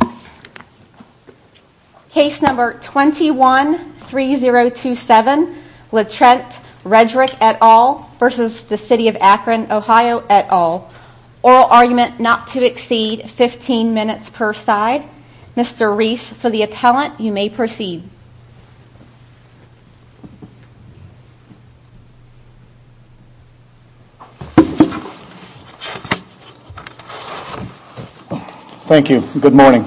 Oral argument not to exceed 15 minutes per side. Mr. Rees for the appellant you may proceed. Thank you. Good morning.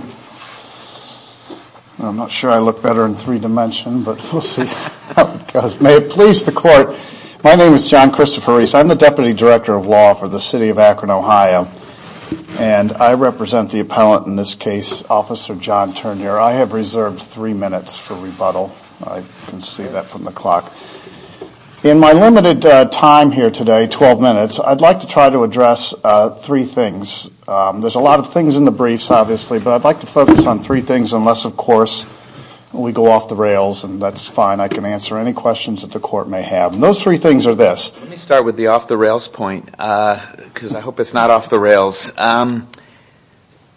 I'm not sure I look better in three dimension but we'll see. May it please the court. My name is John Christopher Rees. I'm the Deputy Director of Law for the City of Akron OH and I represent the appellant in this case, Officer John Turnure. I have reserved three minutes for rebuttal. I can see that from the clock. In my limited time here today, 12 minutes, I'd like to try to address three things. There's a lot of things in the briefs obviously but I'd like to focus on three things unless of course we go off the rails and that's fine. I can answer any questions that the court may have. Those three things are this. Let me start with the off the rails point because I hope it's not off the rails.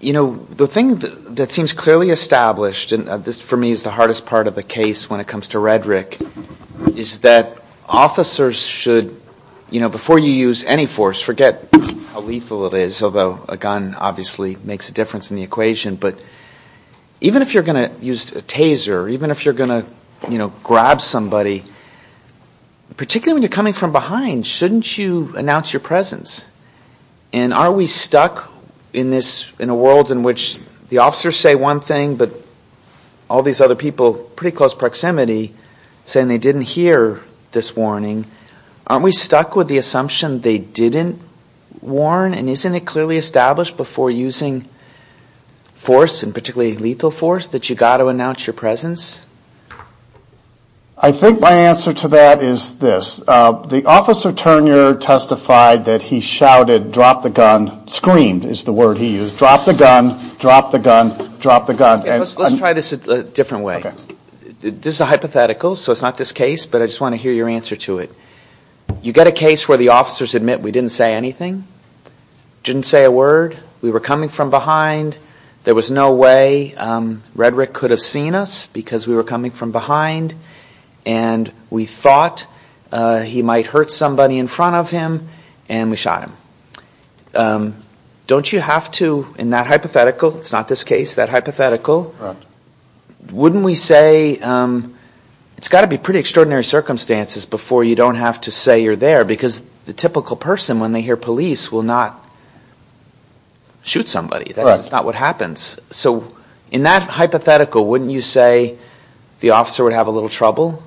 You know, the thing that seems clearly established and this for me is the hardest part of the case when it comes to Redrick is that officers should, you know, before you use any force, forget how lethal it is although a gun obviously makes a difference in the equation but even if you're going to use a taser, even if you're going to, you know, grab somebody, particularly when you're coming from behind, shouldn't you announce your presence? And are we stuck in a world in which the officers say one thing but all these other people pretty close proximity saying they didn't hear this warning? Aren't we stuck with the assumption they didn't warn and isn't it clearly established before using force and particularly lethal force that you've got to announce your presence? I think my answer to that is this. The officer Turner testified that he shouted drop the gun, screamed is the word he used, drop the gun, drop the gun, drop the gun. Let's try this a different way. This is a hypothetical so it's not this case but I just want to hear your answer to it. You get a case where the officers admit we didn't say anything, didn't say a word, we were coming from behind, there was no way Redrick could have seen us because we were coming from behind and we thought he might hurt somebody in front of him and we shot him. Don't you have to, in that hypothetical, it's not this case, that hypothetical, wouldn't we say, it's got to be pretty extraordinary circumstances before you don't have to say you're there because the typical person when they hear police will not shoot somebody. That's not what happens. So in that hypothetical, wouldn't you say the officer would have a little trouble?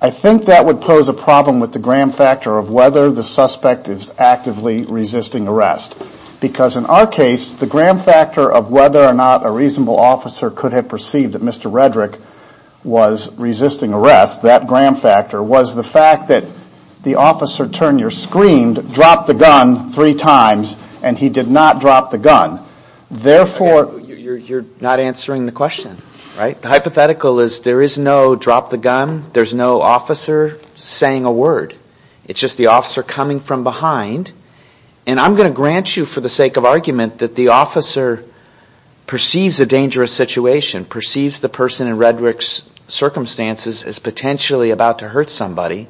I think that would pose a problem with the gram factor of whether the suspect is actively resisting arrest. Because in our case, the gram factor of whether or not a reasonable officer could have perceived that Mr. Redrick was resisting arrest, that gram factor, was the fact that the officer Turner screamed drop the gun three times and he did not drop the gun. Therefore, you're not answering the question, right? The hypothetical is there is no drop the gun, there's no officer saying a word. It's just the officer coming from behind and I'm going to grant you for the sake of argument that the officer perceives a dangerous situation, perceives the person in Redrick's circumstances as potentially about to hurt somebody,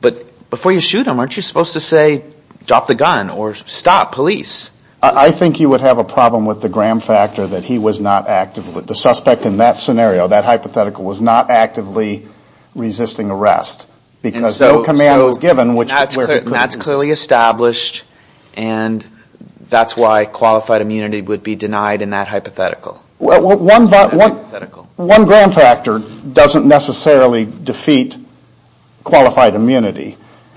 but before you shoot him, aren't you supposed to say drop the gun or stop police? I think you would have a problem with the gram factor that he was not actively, the suspect in that scenario, that hypothetical, was not actively resisting arrest because no command was given. That's clearly established and that's why qualified immunity would be denied in that hypothetical. Well, one gram factor doesn't necessarily defeat qualified immunity.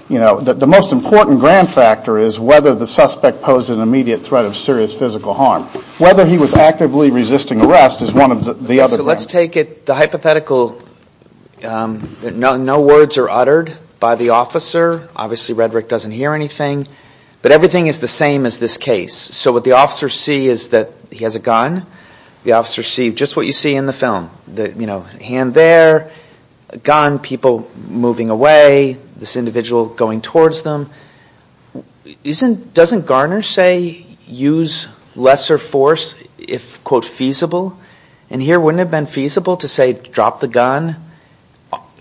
You know, the most important gram factor is whether the suspect posed an immediate threat of serious physical harm. Whether he was actively resisting arrest is one of the other. So let's take it, the hypothetical, no words are uttered by the officer, obviously Redrick doesn't hear anything, but everything is the same as this case. So what the officers see is that he has a gun, the officers see just what you see in the film. Hand there, gun, people moving away, this individual going towards them. Doesn't Garner say use lesser force if, quote, feasible? And here wouldn't it have been feasible to say drop the gun,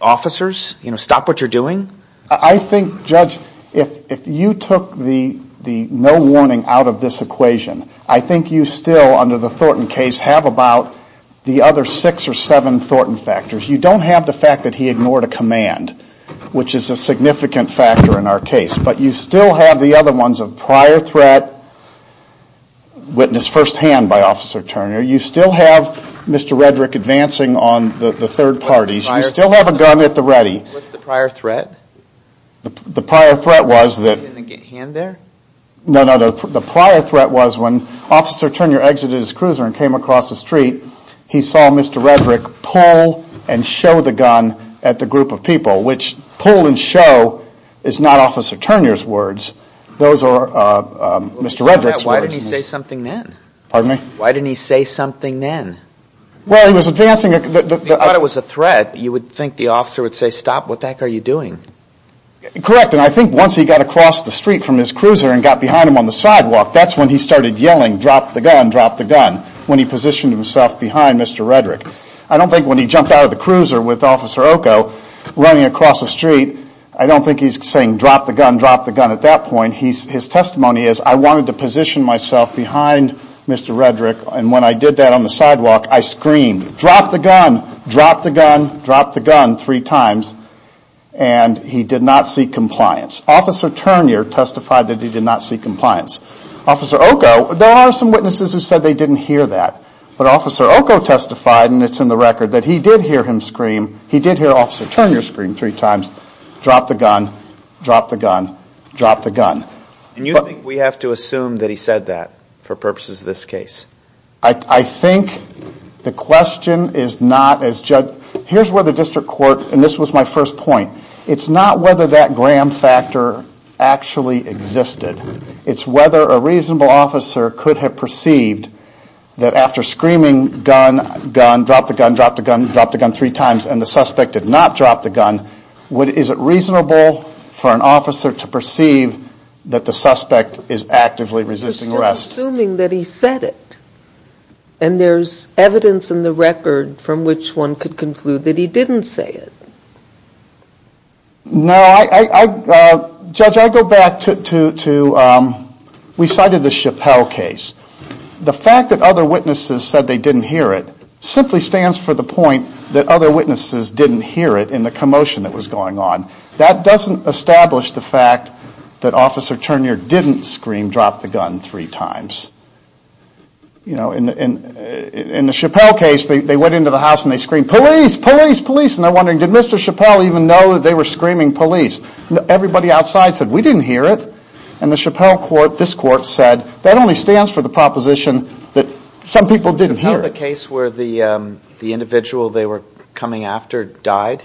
officers, stop what you're doing? I think, Judge, if you took the no warning out of this equation, I think you still, under the Thornton case, have about the other six or seven Thornton factors. You don't have the fact that he ignored a command, which is a significant factor in our case, but you still have the other ones of prior threat, witnessed firsthand by Officer Turner, you still have Mr. Redrick advancing on the third parties, you still have a gun at the ready. What's the prior threat? The prior threat was that... Hand there? No, no, the prior threat was when Officer Turner exited his cruiser and came across the street, he saw Mr. Redrick pull and show the gun at the group of people, which pull and show is not Officer Turner's words, those are Mr. Redrick's words. Why didn't he say something then? Pardon me? Why didn't he say something then? Well, he was advancing... If you thought it was a threat, you would think the officer would say, stop, what the heck are you doing? Correct, and I think once he got across the street from his cruiser and got behind him on the sidewalk, that's when he started yelling, drop the gun, drop the gun, when he positioned himself behind Mr. Redrick. I don't think when he jumped out of the cruiser with Officer Oco running across the street, I don't think he's saying drop the gun, drop the gun at that point. His testimony is, I wanted to position myself behind Mr. Redrick and when I did that on the sidewalk, I screamed, drop the gun, drop the gun, drop the gun three times, and he did not seek compliance. Officer Turner testified that he did not seek compliance. Officer Oco, there are some witnesses who said they didn't hear that, but Officer Oco testified, and it's in the record, that he did hear him scream, he did hear Officer Turner scream three times, drop the gun, drop the gun, drop the gun. And you think we have to assume that he said that for purposes of this case? I think the question is not, here's where the district court, and this was my first point, it's not whether that Graham factor actually existed. It's whether a reasonable officer could have perceived that after screaming, gun, gun, drop the gun, drop the gun, drop the gun three times, and the suspect did not drop the gun, is it reasonable for an officer to perceive that the suspect is actively resisting arrest? You're assuming that he said it, and there's evidence in the record from which one could conclude that he didn't say it. No, I, Judge, I go back to, we cited the Chappelle case. The fact that other witnesses said they didn't hear it simply stands for the point that other witnesses didn't hear it in the commotion that was going on. That doesn't establish the fact that Officer Turner didn't scream, drop the gun, three times. You know, in the Chappelle case, they went into the house and they screamed, police, police, police, and they're wondering, did Mr. Chappelle even know that they were screaming police? Everybody outside said, we didn't hear it, and the Chappelle court, this court said, that only stands for the proposition that some people didn't hear it. Was the Chappelle the case where the individual they were coming after died?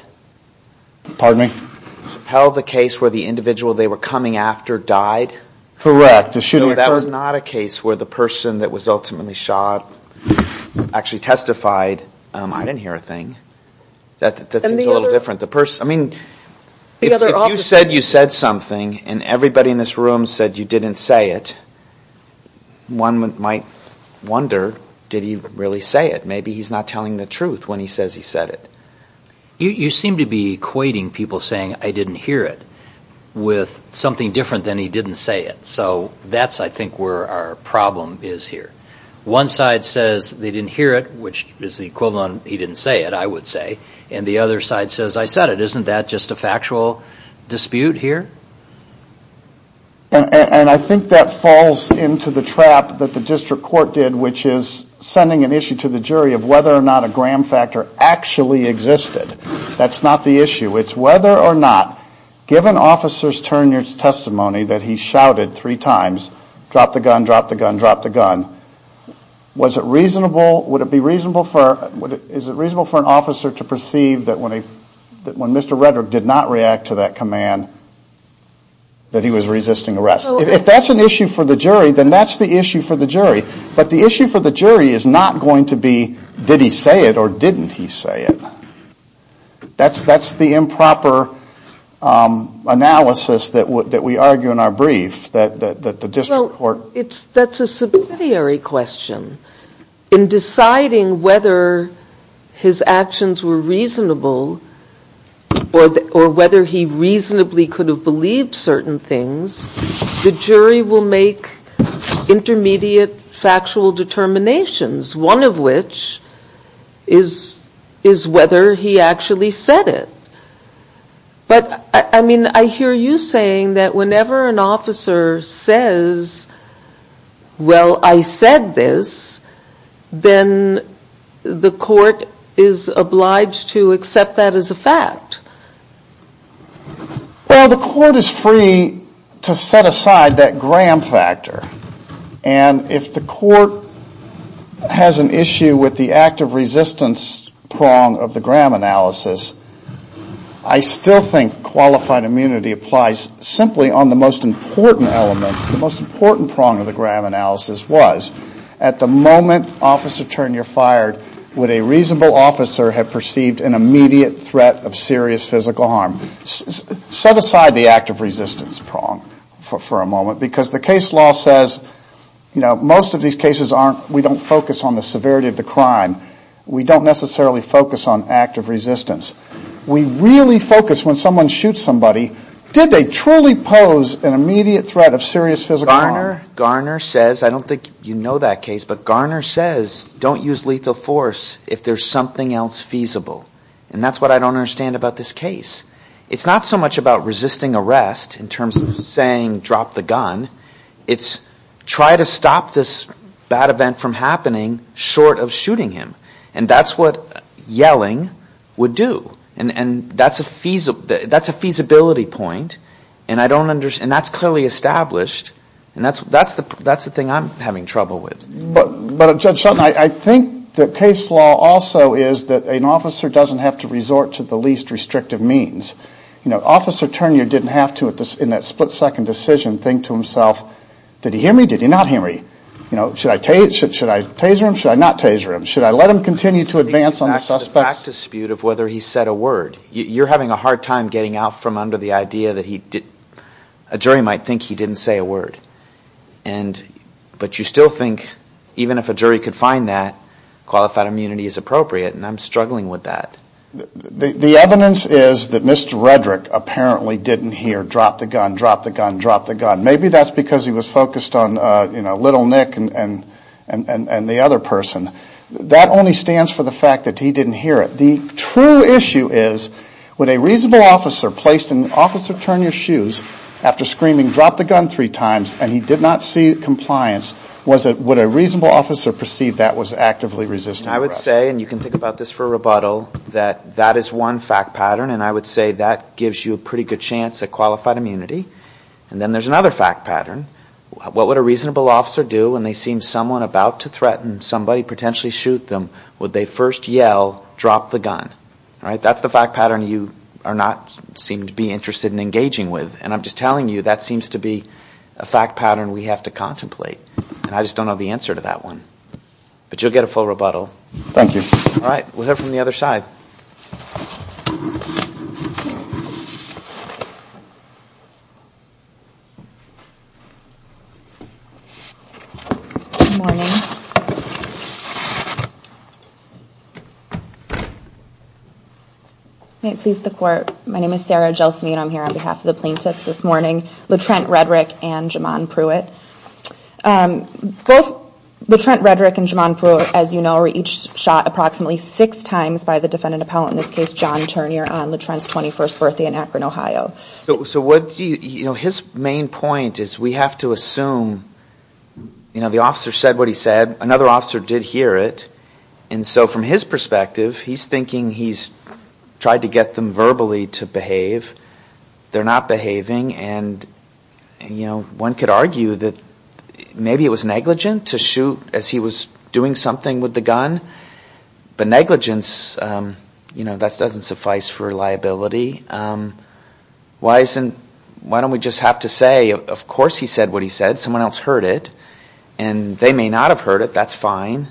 Pardon me? Chappelle the case where the individual they were coming after died? Correct. That was not a case where the person that was ultimately shot actually testified, I didn't hear a thing. That seems a little different. If you said you said something and everybody in this room said you didn't say it, one might wonder, did he really say it? Maybe he's not telling the truth when he says he said it. You seem to be equating people saying, I didn't hear it, with something different than he didn't say it. So that's, I think, where our problem is here. One side says they didn't hear it, which is the equivalent of he didn't say it, I would say, and the other side says I said it. Isn't that just a factual dispute here? And I think that falls into the trap that the district court did, which is sending an issue to the jury of whether or not a gram factor actually existed. That's not the issue. It's whether or not, given officer's turn in his testimony that he shouted three times, drop the gun, drop the gun, drop the gun, was it reasonable, would it be reasonable for, is it reasonable for an officer to perceive that when Mr. Redrick did not react to that command, that he was resisting arrest? If that's an issue for the jury, then that's the issue for the jury. But the issue for the jury is not going to be, did he say it or didn't he say it? That's the improper analysis that we argue in our brief, that the district court. Well, that's a subsidiary question. In deciding whether his actions were reasonable or whether he reasonably could have believed certain things, the jury will make intermediate factual determinations, one of which is whether he actually said it. But, I mean, I hear you saying that whenever an officer says, well, I said this, then the court is obliged to accept that as a fact. Well, the court is free to set aside that Graham factor. And if the court has an issue with the active resistance prong of the Graham analysis, I still think qualified immunity applies simply on the most important element, the most important prong of the Graham analysis was, at the moment, officer, turn your fire, would a reasonable officer have perceived an immediate threat of serious physical harm? Set aside the active resistance prong for a moment, because the case law says, you know, most of these cases aren't, we don't focus on the severity of the crime. We don't necessarily focus on active resistance. We really focus when someone shoots somebody, did they truly pose an immediate threat of serious physical harm? Garner says, I don't think you know that case, but Garner says, don't use lethal force if there's something else feasible. And that's what I don't understand about this case. It's not so much about resisting arrest in terms of saying drop the gun. It's try to stop this bad event from happening short of shooting him. And that's what yelling would do. And that's a feasibility point. And that's clearly established. And that's the thing I'm having trouble with. But, Judge Shultz, I think the case law also is that an officer doesn't have to resort to the least restrictive means. You know, Officer Turnure didn't have to, in that split-second decision, think to himself, did he hear me, did he not hear me? You know, should I taser him, should I not taser him? Should I let him continue to advance on the suspect? There's a fact dispute of whether he said a word. You're having a hard time getting out from under the idea that a jury might think he didn't say a word. But you still think, even if a jury could find that, qualified immunity is appropriate, and I'm struggling with that. The evidence is that Mr. Redrick apparently didn't hear drop the gun, drop the gun, drop the gun. Maybe that's because he was focused on, you know, little Nick and the other person. That only stands for the fact that he didn't hear it. The true issue is, would a reasonable officer placed in Officer Turnure's shoes, after screaming drop the gun three times, and he did not see compliance, would a reasonable officer perceive that was actively resisting arrest? I would say, and you can think about this for a rebuttal, that that is one fact pattern, and I would say that gives you a pretty good chance at qualified immunity. And then there's another fact pattern. What would a reasonable officer do when they see someone about to threaten somebody, potentially shoot them, would they first yell drop the gun? That's the fact pattern you are not, seem to be interested in engaging with. And I'm just telling you, that seems to be a fact pattern we have to contemplate. And I just don't know the answer to that one. But you'll get a full rebuttal. Thank you. All right. We'll hear from the other side. Good morning. May it please the Court. My name is Sarah Gelsinian. I'm here on behalf of the plaintiffs this morning, LaTrent Redrick and Jamon Pruitt. Both LaTrent Redrick and Jamon Pruitt, as you know, were each shot approximately six times by the defendant appellant, in this case, John Turnure, on LaTrent's 21st birthday in Akron, Ohio. So his main point is we have to assume, you know, the officer said what he said. Another officer did hear it. And so from his perspective, he's thinking he's tried to get them verbally to behave. They're not behaving. And, you know, one could argue that maybe it was negligent to shoot as he was doing something with the gun. But negligence, you know, that doesn't suffice for liability. Why don't we just have to say, of course he said what he said. Someone else heard it. And they may not have heard it. That's fine.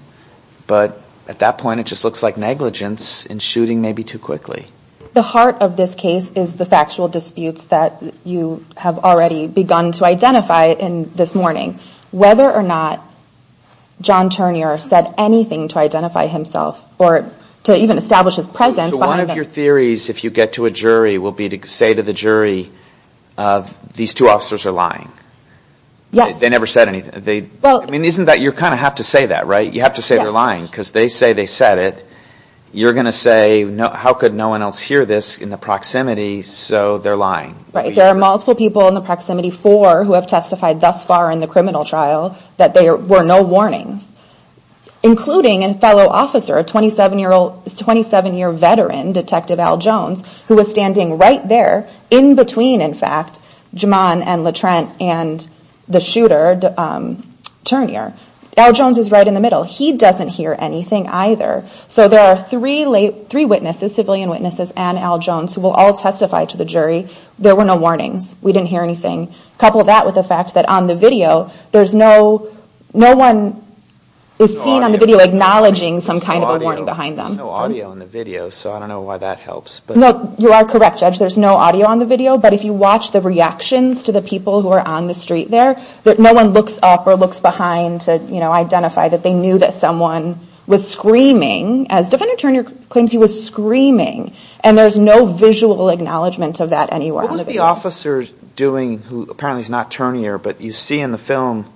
But at that point, it just looks like negligence and shooting maybe too quickly. The heart of this case is the factual disputes that you have already begun to identify this morning. Whether or not John Turnure said anything to identify himself or to even establish his presence. So one of your theories, if you get to a jury, will be to say to the jury, these two officers are lying. Yes. They never said anything. I mean, isn't that you kind of have to say that, right? You have to say they're lying because they say they said it. You're going to say how could no one else hear this in the proximity, so they're lying. Right. There are multiple people in the proximity, four who have testified thus far in the criminal trial that there were no warnings. Including a fellow officer, a 27-year veteran, Detective Al Jones, who was standing right there in between, in fact, Juman and Latrant and the shooter, Turnure. Al Jones is right in the middle. He doesn't hear anything either. So there are three witnesses, civilian witnesses and Al Jones, who will all testify to the jury. There were no warnings. We didn't hear anything. Couple that with the fact that on the video, there's no, no one is seen on the video acknowledging some kind of a warning behind them. There's no audio on the video, so I don't know why that helps. No, you are correct, Judge. There's no audio on the video, but if you watch the reactions to the people who are on the street there, no one looks up or looks behind to, you know, as Defendant Turnure claims he was screaming, and there's no visual acknowledgement of that anywhere on the video. What was the officer doing, who apparently is not Turnure, but you see in the film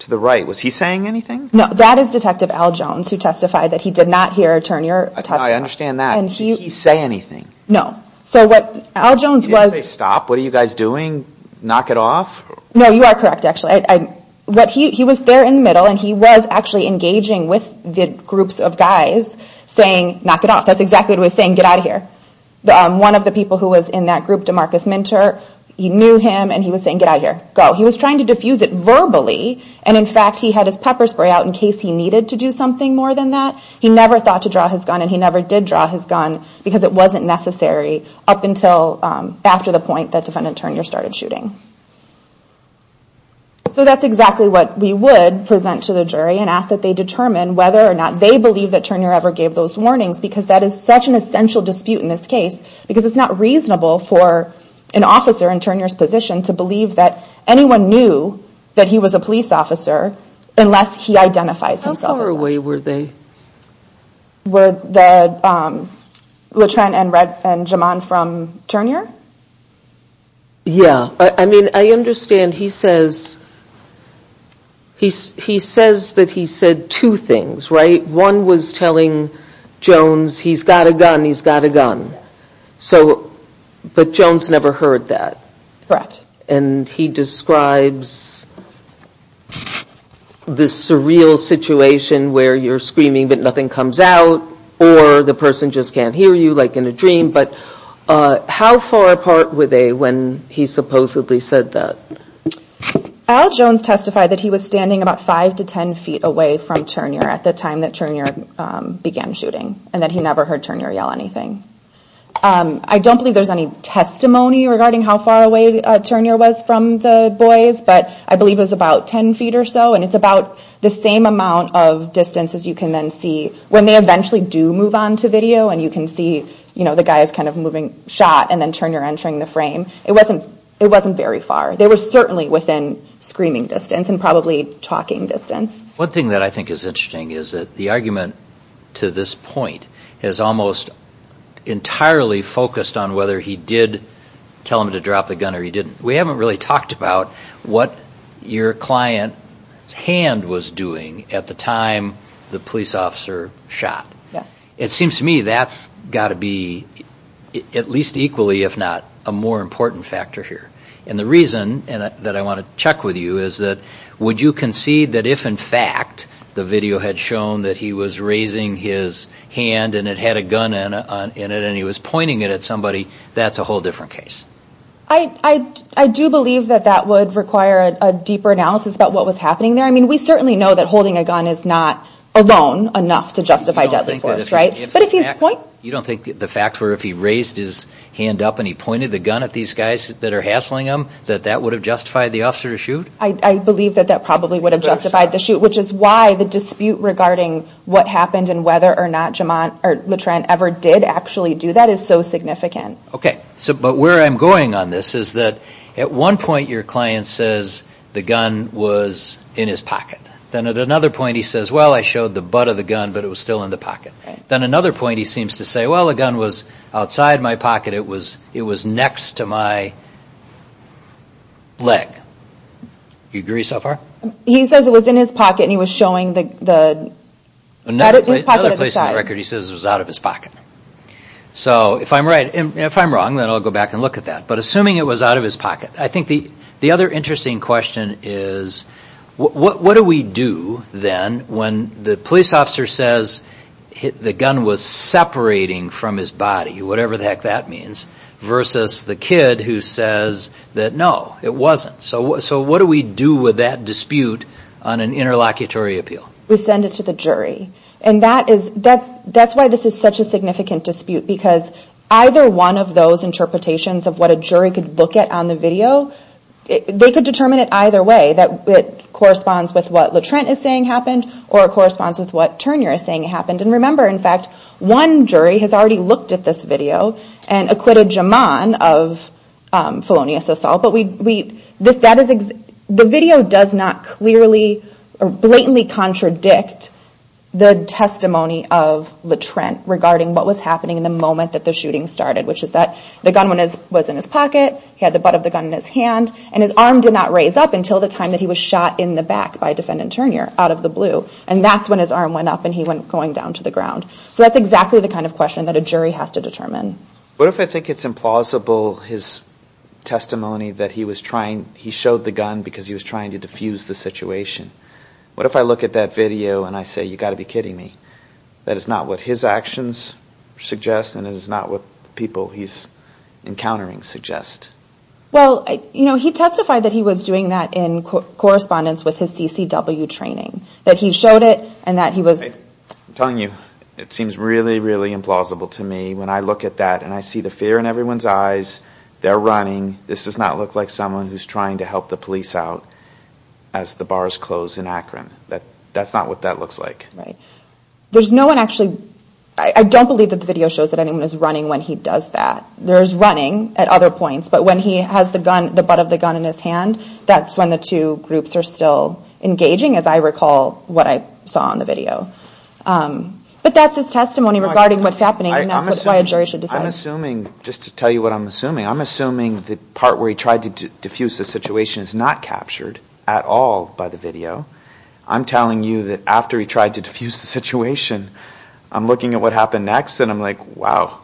to the right? Was he saying anything? No, that is Detective Al Jones, who testified that he did not hear Turnure testify. I understand that. Did he say anything? No. So what Al Jones was... Did he say, stop? What are you guys doing? Knock it off? No, you are correct, actually. He was there in the middle, and he was actually engaging with the groups of guys, saying, knock it off. That's exactly what he was saying, get out of here. One of the people who was in that group, DeMarcus Minter, knew him, and he was saying, get out of here, go. He was trying to diffuse it verbally, and in fact, he had his pepper spray out in case he needed to do something more than that. He never thought to draw his gun, and he never did draw his gun, because it wasn't necessary up until after the point that Defendant Turnure started shooting. So that's exactly what we would present to the jury, and ask that they determine whether or not they believe that Turnure ever gave those warnings, because that is such an essential dispute in this case, because it's not reasonable for an officer in Turnure's position to believe that anyone knew that he was a police officer, unless he identifies himself as one. How far away were they? Were the LeTrent, and Retz, and Jaman from Turnure? Yeah, I mean, I understand he says that he said two things, right? One was telling Jones, he's got a gun, he's got a gun, but Jones never heard that. Correct. And he describes this surreal situation where you're screaming, but nothing comes out, or the person just can't hear you, like in a dream, but how far apart were they when he supposedly said that? Al Jones testified that he was standing about five to ten feet away from Turnure at the time that Turnure began shooting, and that he never heard Turnure yell anything. I don't believe there's any testimony regarding how far away Turnure was from the boys, but I believe it was about ten feet or so, and it's about the same amount of distance as you can then see when they eventually do move on to video, and you can see the guys kind of moving, shot, and then Turnure entering the frame. It wasn't very far. They were certainly within screaming distance, and probably talking distance. One thing that I think is interesting is that the argument to this point is almost entirely focused on whether he did tell him to drop the gun or he didn't. We haven't really talked about what your client's hand was doing at the time the police officer shot. Yes. It seems to me that's got to be at least equally, if not a more important factor here, and the reason that I want to check with you is that would you concede that if, in fact, the video had shown that he was raising his hand and it had a gun in it and he was pointing it at somebody, that's a whole different case? I do believe that that would require a deeper analysis about what was happening there. I mean, we certainly know that holding a gun is not alone enough to justify deadly force, right? You don't think that if he raised his hand up and he pointed the gun at these guys that are hassling him, that that would have justified the officer to shoot? I believe that that probably would have justified the shoot, which is why the dispute regarding what happened and whether or not LeTrent ever did actually do that is so significant. Okay, but where I'm going on this is that at one point your client says the gun was in his pocket. Then at another point he says, well, I showed the butt of the gun, but it was still in the pocket. Then at another point he seems to say, well, the gun was outside my pocket. It was next to my leg. Do you agree so far? He says it was in his pocket and he was showing his pocket at the side. So if I'm right, if I'm wrong, then I'll go back and look at that. But assuming it was out of his pocket, I think the other interesting question is, what do we do then when the police officer says the gun was separating from his body, whatever the heck that means, versus the kid who says that no, it wasn't. So what do we do with that dispute on an interlocutory appeal? We send it to the jury. And that's why this is such a significant dispute, because either one of those interpretations of what a jury could look at on the video, they could determine it either way, that it corresponds with what LaTrent is saying happened or it corresponds with what Turner is saying happened. And remember, in fact, one jury has already looked at this video and acquitted Jamon of felonious assault. The video does not blatantly contradict the testimony of LaTrent regarding what was happening in the moment that the shooting started, which is that the gun was in his pocket, he had the butt of the gun in his hand, and his arm did not raise up until the time that he was shot in the back by defendant Turner out of the blue. And that's when his arm went up and he went going down to the ground. So that's exactly the kind of question that a jury has to determine. What if I think it's implausible his testimony that he showed the gun because he was trying to diffuse the situation? What if I look at that video and I say, you've got to be kidding me. That is not what his actions suggest and it is not what the people he's encountering suggest. Well, he testified that he was doing that in correspondence with his CCW training, that he showed it and that he was... I'm telling you, it seems really, really implausible to me when I look at that and I see the fear in everyone's eyes. They're running. This does not look like someone who's trying to help the police out as the bars close in Akron. That's not what that looks like. Right. There's no one actually... I don't believe that the video shows that anyone is running when he does that. There is running at other points, but when he has the butt of the gun in his hand, that's when the two groups are still engaging, as I recall what I saw in the video. But that's his testimony regarding what's happening and that's why a jury should decide. I'm assuming, just to tell you what I'm assuming, I'm assuming the part where he tried to diffuse the situation is not captured at all by the video. I'm telling you that after he tried to diffuse the situation, I'm looking at what happened next and I'm like, wow,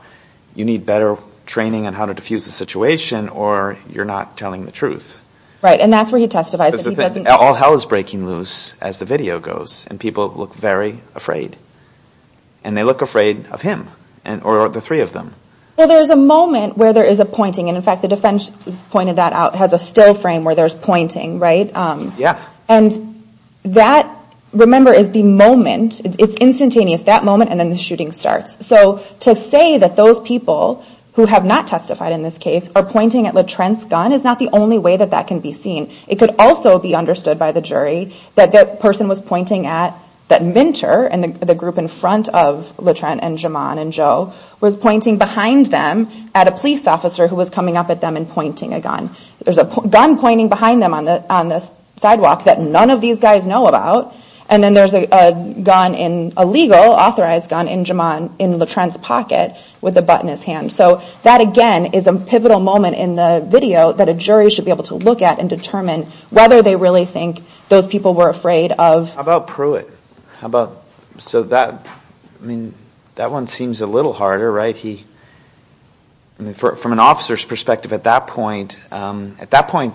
you need better training on how to diffuse the situation or you're not telling the truth. Right, and that's where he testifies. All hell is breaking loose as the video goes and people look very afraid. And they look afraid of him or the three of them. Well, there's a moment where there is a pointing and in fact the defense pointed that out, has a still frame where there's pointing, right? Yeah. And that, remember, is the moment. It's instantaneous, that moment and then the shooting starts. So to say that those people who have not testified in this case are pointing at LeTrent's gun is not the only way that that can be seen. It could also be understood by the jury that that person was pointing at that mentor and the group in front of LeTrent and Jamon and Joe was pointing behind them at a police officer who was coming up at them and pointing a gun. There's a gun pointing behind them on the sidewalk that none of these guys know about and then there's a gun, a legal authorized gun in Jamon, in LeTrent's pocket with a butt in his hand. So that again is a pivotal moment in the video that a jury should be able to look at and determine whether they really think those people were afraid of. How about Pruitt? How about, so that, I mean, that one seems a little harder, right? He, I mean, from an officer's perspective at that point, at that point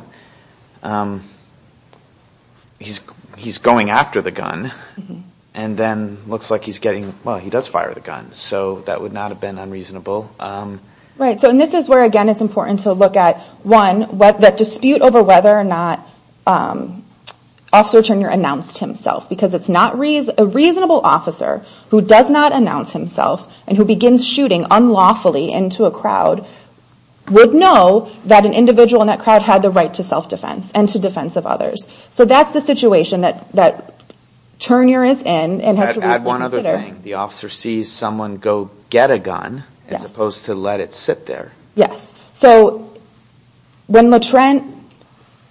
he's going after the gun and then looks like he's getting, well, he does fire the gun. So that would not have been unreasonable. Right, so and this is where again it's important to look at, one, that dispute over whether or not Officer Turnure announced himself because it's not, a reasonable officer who does not announce himself and who begins shooting unlawfully into a crowd would know that an individual in that crowd had the right to self-defense and to defense of others. So that's the situation that Turnure is in and has to be considered. Add one other thing. The officer sees someone go get a gun as opposed to let it sit there. Yes, so when Le Trent,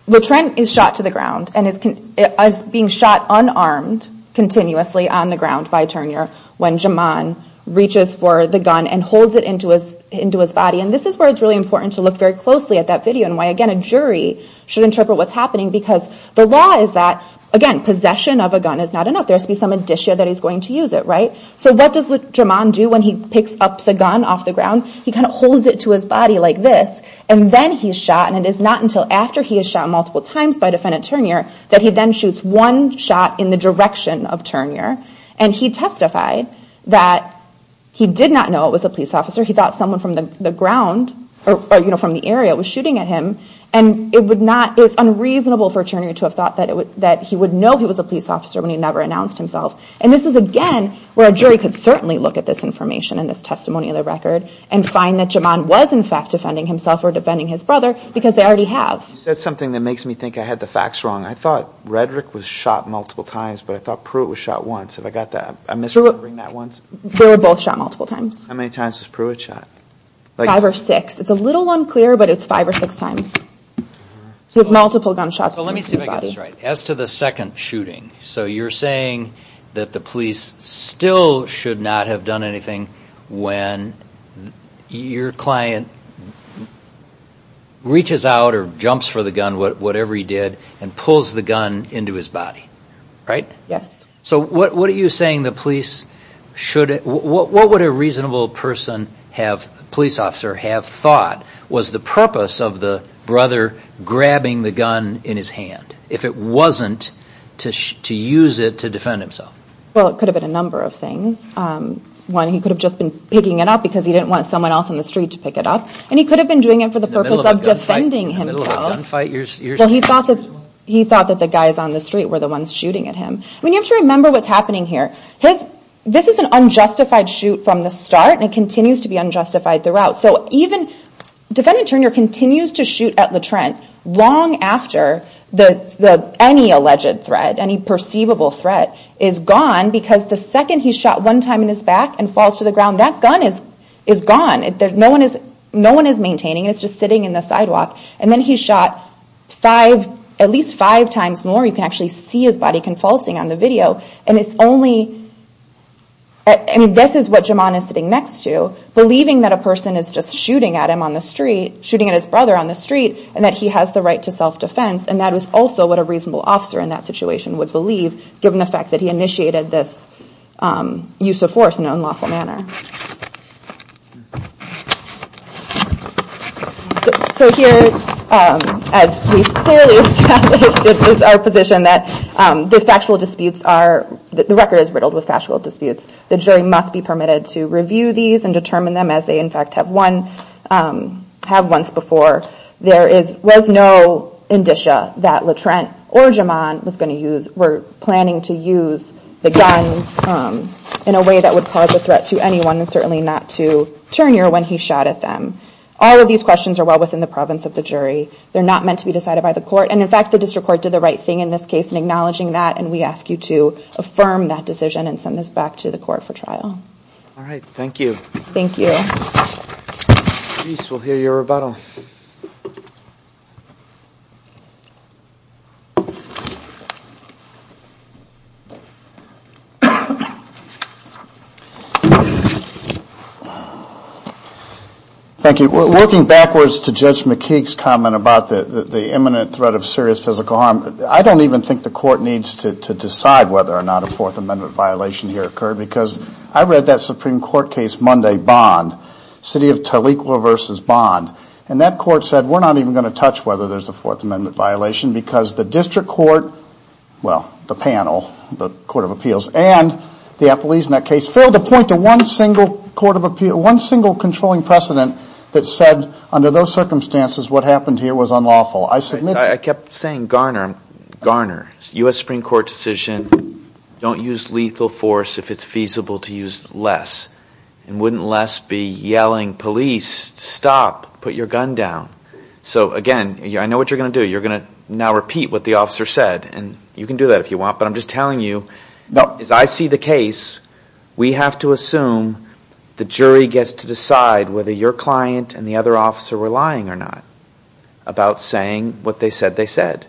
Le Trent is shot to the ground and is being shot unarmed continuously on the ground by Turnure when Germain reaches for the gun and holds it into his body and this is where it's really important to look very closely at that video and why again a jury should interpret what's happening because the law is that, again, possession of a gun is not enough. There has to be some addition that he's going to use it, right? So what does Germain do when he picks up the gun off the ground? He kind of holds it to his body like this and then he's shot and it is not until after he is shot multiple times by defendant Turnure that he then shoots one shot in the direction of Turnure and he testified that he did not know it was a police officer. He thought someone from the ground or from the area was shooting at him and it's unreasonable for Turnure to have thought that he would know he was a police officer when he never announced himself and this is again where a jury could certainly look at this information and this testimonial record and find that Germain was in fact defending himself or defending his brother because they already have. You said something that makes me think I had the facts wrong. I thought Redrick was shot multiple times but I thought Pruitt was shot once. Have I got that? I'm misremembering that once. They were both shot multiple times. How many times was Pruitt shot? Five or six. It's a little unclear but it's five or six times. So it's multiple gunshots. So let me see if I get this right. As to the second shooting, so you're saying that the police still should not have done anything when your client reaches out or jumps for the gun, whatever he did, and pulls the gun into his body, right? Yes. So what are you saying the police should, what would a reasonable person have, police officer, have thought was the purpose of the brother grabbing the gun in his hand Well, it could have been a number of things. One, he could have just been picking it up because he didn't want someone else on the street to pick it up. And he could have been doing it for the purpose of defending himself. In the middle of a gunfight? Well, he thought that the guys on the street were the ones shooting at him. You have to remember what's happening here. This is an unjustified shoot from the start and it continues to be unjustified throughout. So even, defendant Turner continues to shoot at LaTrent long after any alleged threat, any perceivable threat is gone because the second he's shot one time in his back and falls to the ground, that gun is gone. No one is maintaining it. It's just sitting in the sidewalk. And then he shot five, at least five times more. You can actually see his body convulsing on the video. And it's only, I mean, this is what Jamon is sitting next to, believing that a person is just shooting at him on the street, shooting at his brother on the street, and that he has the right to self-defense. And that was also what a reasonable officer in that situation would believe, given the fact that he initiated this use of force in an unlawful manner. So here, as we clearly established, it is our position that the factual disputes are, the record is riddled with factual disputes. The jury must be permitted to review these and determine them as they in fact have one, have once before. There is, was no indicia that LaTrent or Jamon was going to use, were planning to use the guns in a way that would cause a threat to anyone and certainly not to Turner when he shot at them. All of these questions are well within the province of the jury. They're not meant to be decided by the court. And in fact, the district court did the right thing in this case in acknowledging that. And we ask you to affirm that decision and send this back to the court for trial. All right. Thank you. Thank you. We'll hear your rebuttal. Thank you. Thank you. Looking backwards to Judge McKeague's comment about the imminent threat of serious physical harm, I don't even think the court needs to decide whether or not a Fourth Amendment violation here occurred because I read that Supreme Court case Monday, Bond, City of Toleco v. Bond, and that court said we're not even going to touch whether there's a Fourth Amendment violation because the district court, well, the panel, the Court of Appeals, and the appellees in that case failed to point to one single controlling precedent that said under those circumstances what happened here was unlawful. I kept saying Garner. Garner, U.S. Supreme Court decision, don't use lethal force if it's feasible to use less. And wouldn't less be yelling, police, stop, put your gun down. So again, I know what you're going to do. You're going to now repeat what the officer said, and you can do that if you want, but I'm just telling you as I see the case, we have to assume the jury gets to decide whether your client and the other officer were lying or not about saying what they said they said.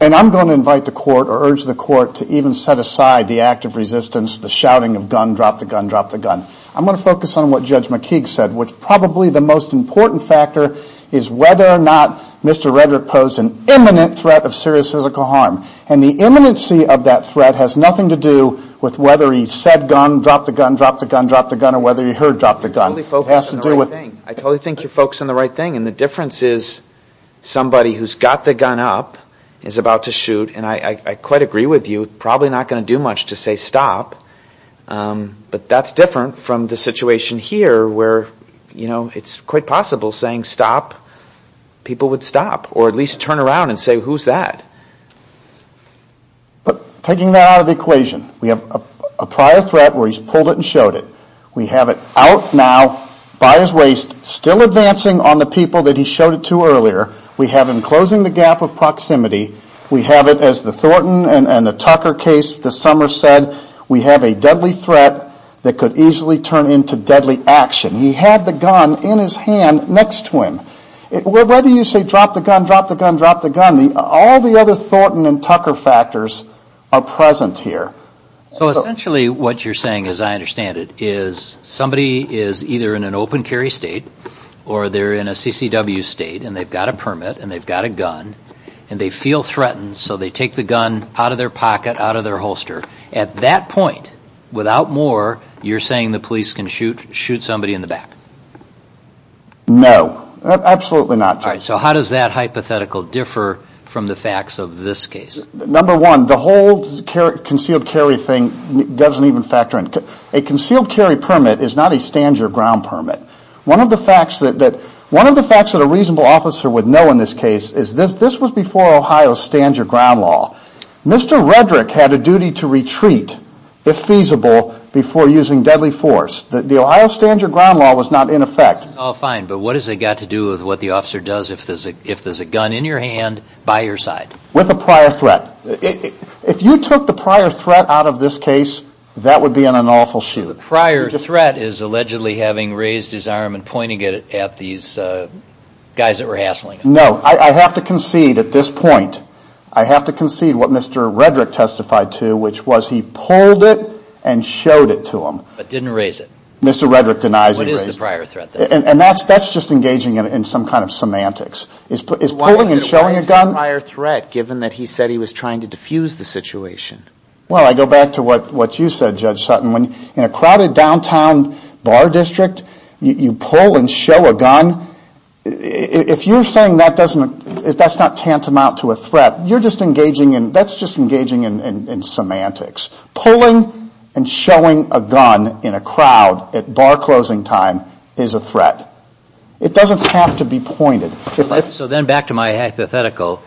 And I'm going to invite the court or urge the court to even set aside the act of resistance, the shouting of gun, drop the gun, drop the gun. I'm going to focus on what Judge McKeague said, which probably the most important factor is whether or not Mr. Redrick posed an imminent threat of serious physical harm. And the imminency of that threat has nothing to do with whether he said gun, drop the gun, drop the gun, drop the gun, or whether he heard drop the gun. It has to do with... I totally think you're focusing on the right thing, and the difference is somebody who's got the gun up is about to shoot, and I quite agree with you, probably not going to do much to say stop. But that's different from the situation here where it's quite possible saying stop, people would stop, or at least turn around and say, who's that? But taking that out of the equation, we have a prior threat where he's pulled it and showed it. We have it out now by his waist, still advancing on the people that he showed it to earlier. We have him closing the gap of proximity. We have it, as the Thornton and the Tucker case this summer said, we have a deadly threat that could easily turn into deadly action. He had the gun in his hand next to him. Whether you say drop the gun, drop the gun, drop the gun, all the other Thornton and Tucker factors are present here. So essentially what you're saying, as I understand it, is somebody is either in an open carry state or they're in a CCW state, and they've got a permit, and they've got a gun, and they feel threatened, so they take the gun out of their pocket, out of their holster. At that point, without more, you're saying the police can shoot somebody in the back? No. Absolutely not, Jay. So how does that hypothetical differ from the facts of this case? Number one, the whole concealed carry thing doesn't even factor in. A concealed carry permit is not a stand-your-ground permit. One of the facts that a reasonable officer would know in this case is this was before Ohio's stand-your-ground law. Mr. Redrick had a duty to retreat, if feasible, before using deadly force. The Ohio stand-your-ground law was not in effect. Oh, fine, but what has it got to do with what the officer does if there's a gun in your hand by your side? With a prior threat. If you took the prior threat out of this case, that would be an unlawful shoot. The prior threat is allegedly having raised his arm and pointing it at these guys that were hassling him. No. I have to concede at this point. I have to concede what Mr. Redrick testified to, which was he pulled it and showed it to them. But didn't raise it. Mr. Redrick denies he raised it. What is the prior threat, then? And that's just engaging in some kind of semantics. Is pulling and showing a gun? Why is it a prior threat, given that he said he was trying to defuse the situation? Well, I go back to what you said, Judge Sutton. In a crowded downtown bar district, you pull and show a gun. If you're saying that's not tantamount to a threat, that's just engaging in semantics. Pulling and showing a gun in a crowd at bar closing time is a threat. It doesn't have to be pointed. So then back to my hypothetical,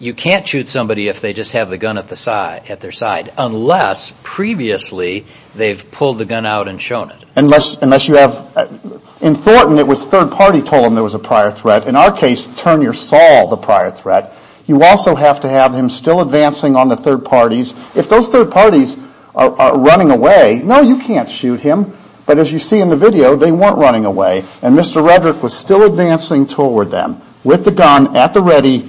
you can't shoot somebody if they just have the gun at their side, unless previously they've pulled the gun out and shown it. In Thornton, it was third party told him there was a prior threat. In our case, Turnure saw the prior threat. You also have to have him still advancing on the third parties. If those third parties are running away, no, you can't shoot him. But as you see in the video, they weren't running away. And Mr. Redrick was still advancing toward them with the gun at the ready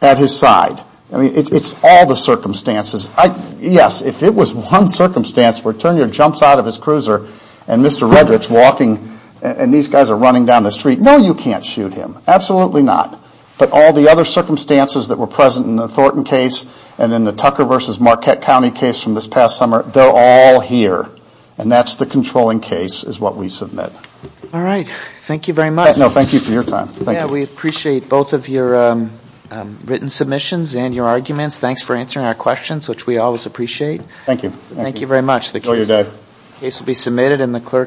at his side. I mean, it's all the circumstances. Yes, if it was one circumstance where Turnure jumps out of his cruiser and Mr. Redrick's walking and these guys are running down the street, no, you can't shoot him. Absolutely not. But all the other circumstances that were present in the Thornton case and in the Tucker v. Marquette County case from this past summer, they're all here. And that's the controlling case is what we submit. All right. Thank you very much. No, thank you for your time. Yeah, we appreciate both of your written submissions and your arguments. Thanks for answering our questions, which we always appreciate. Thank you. Thank you very much. The case will be submitted and the clerk.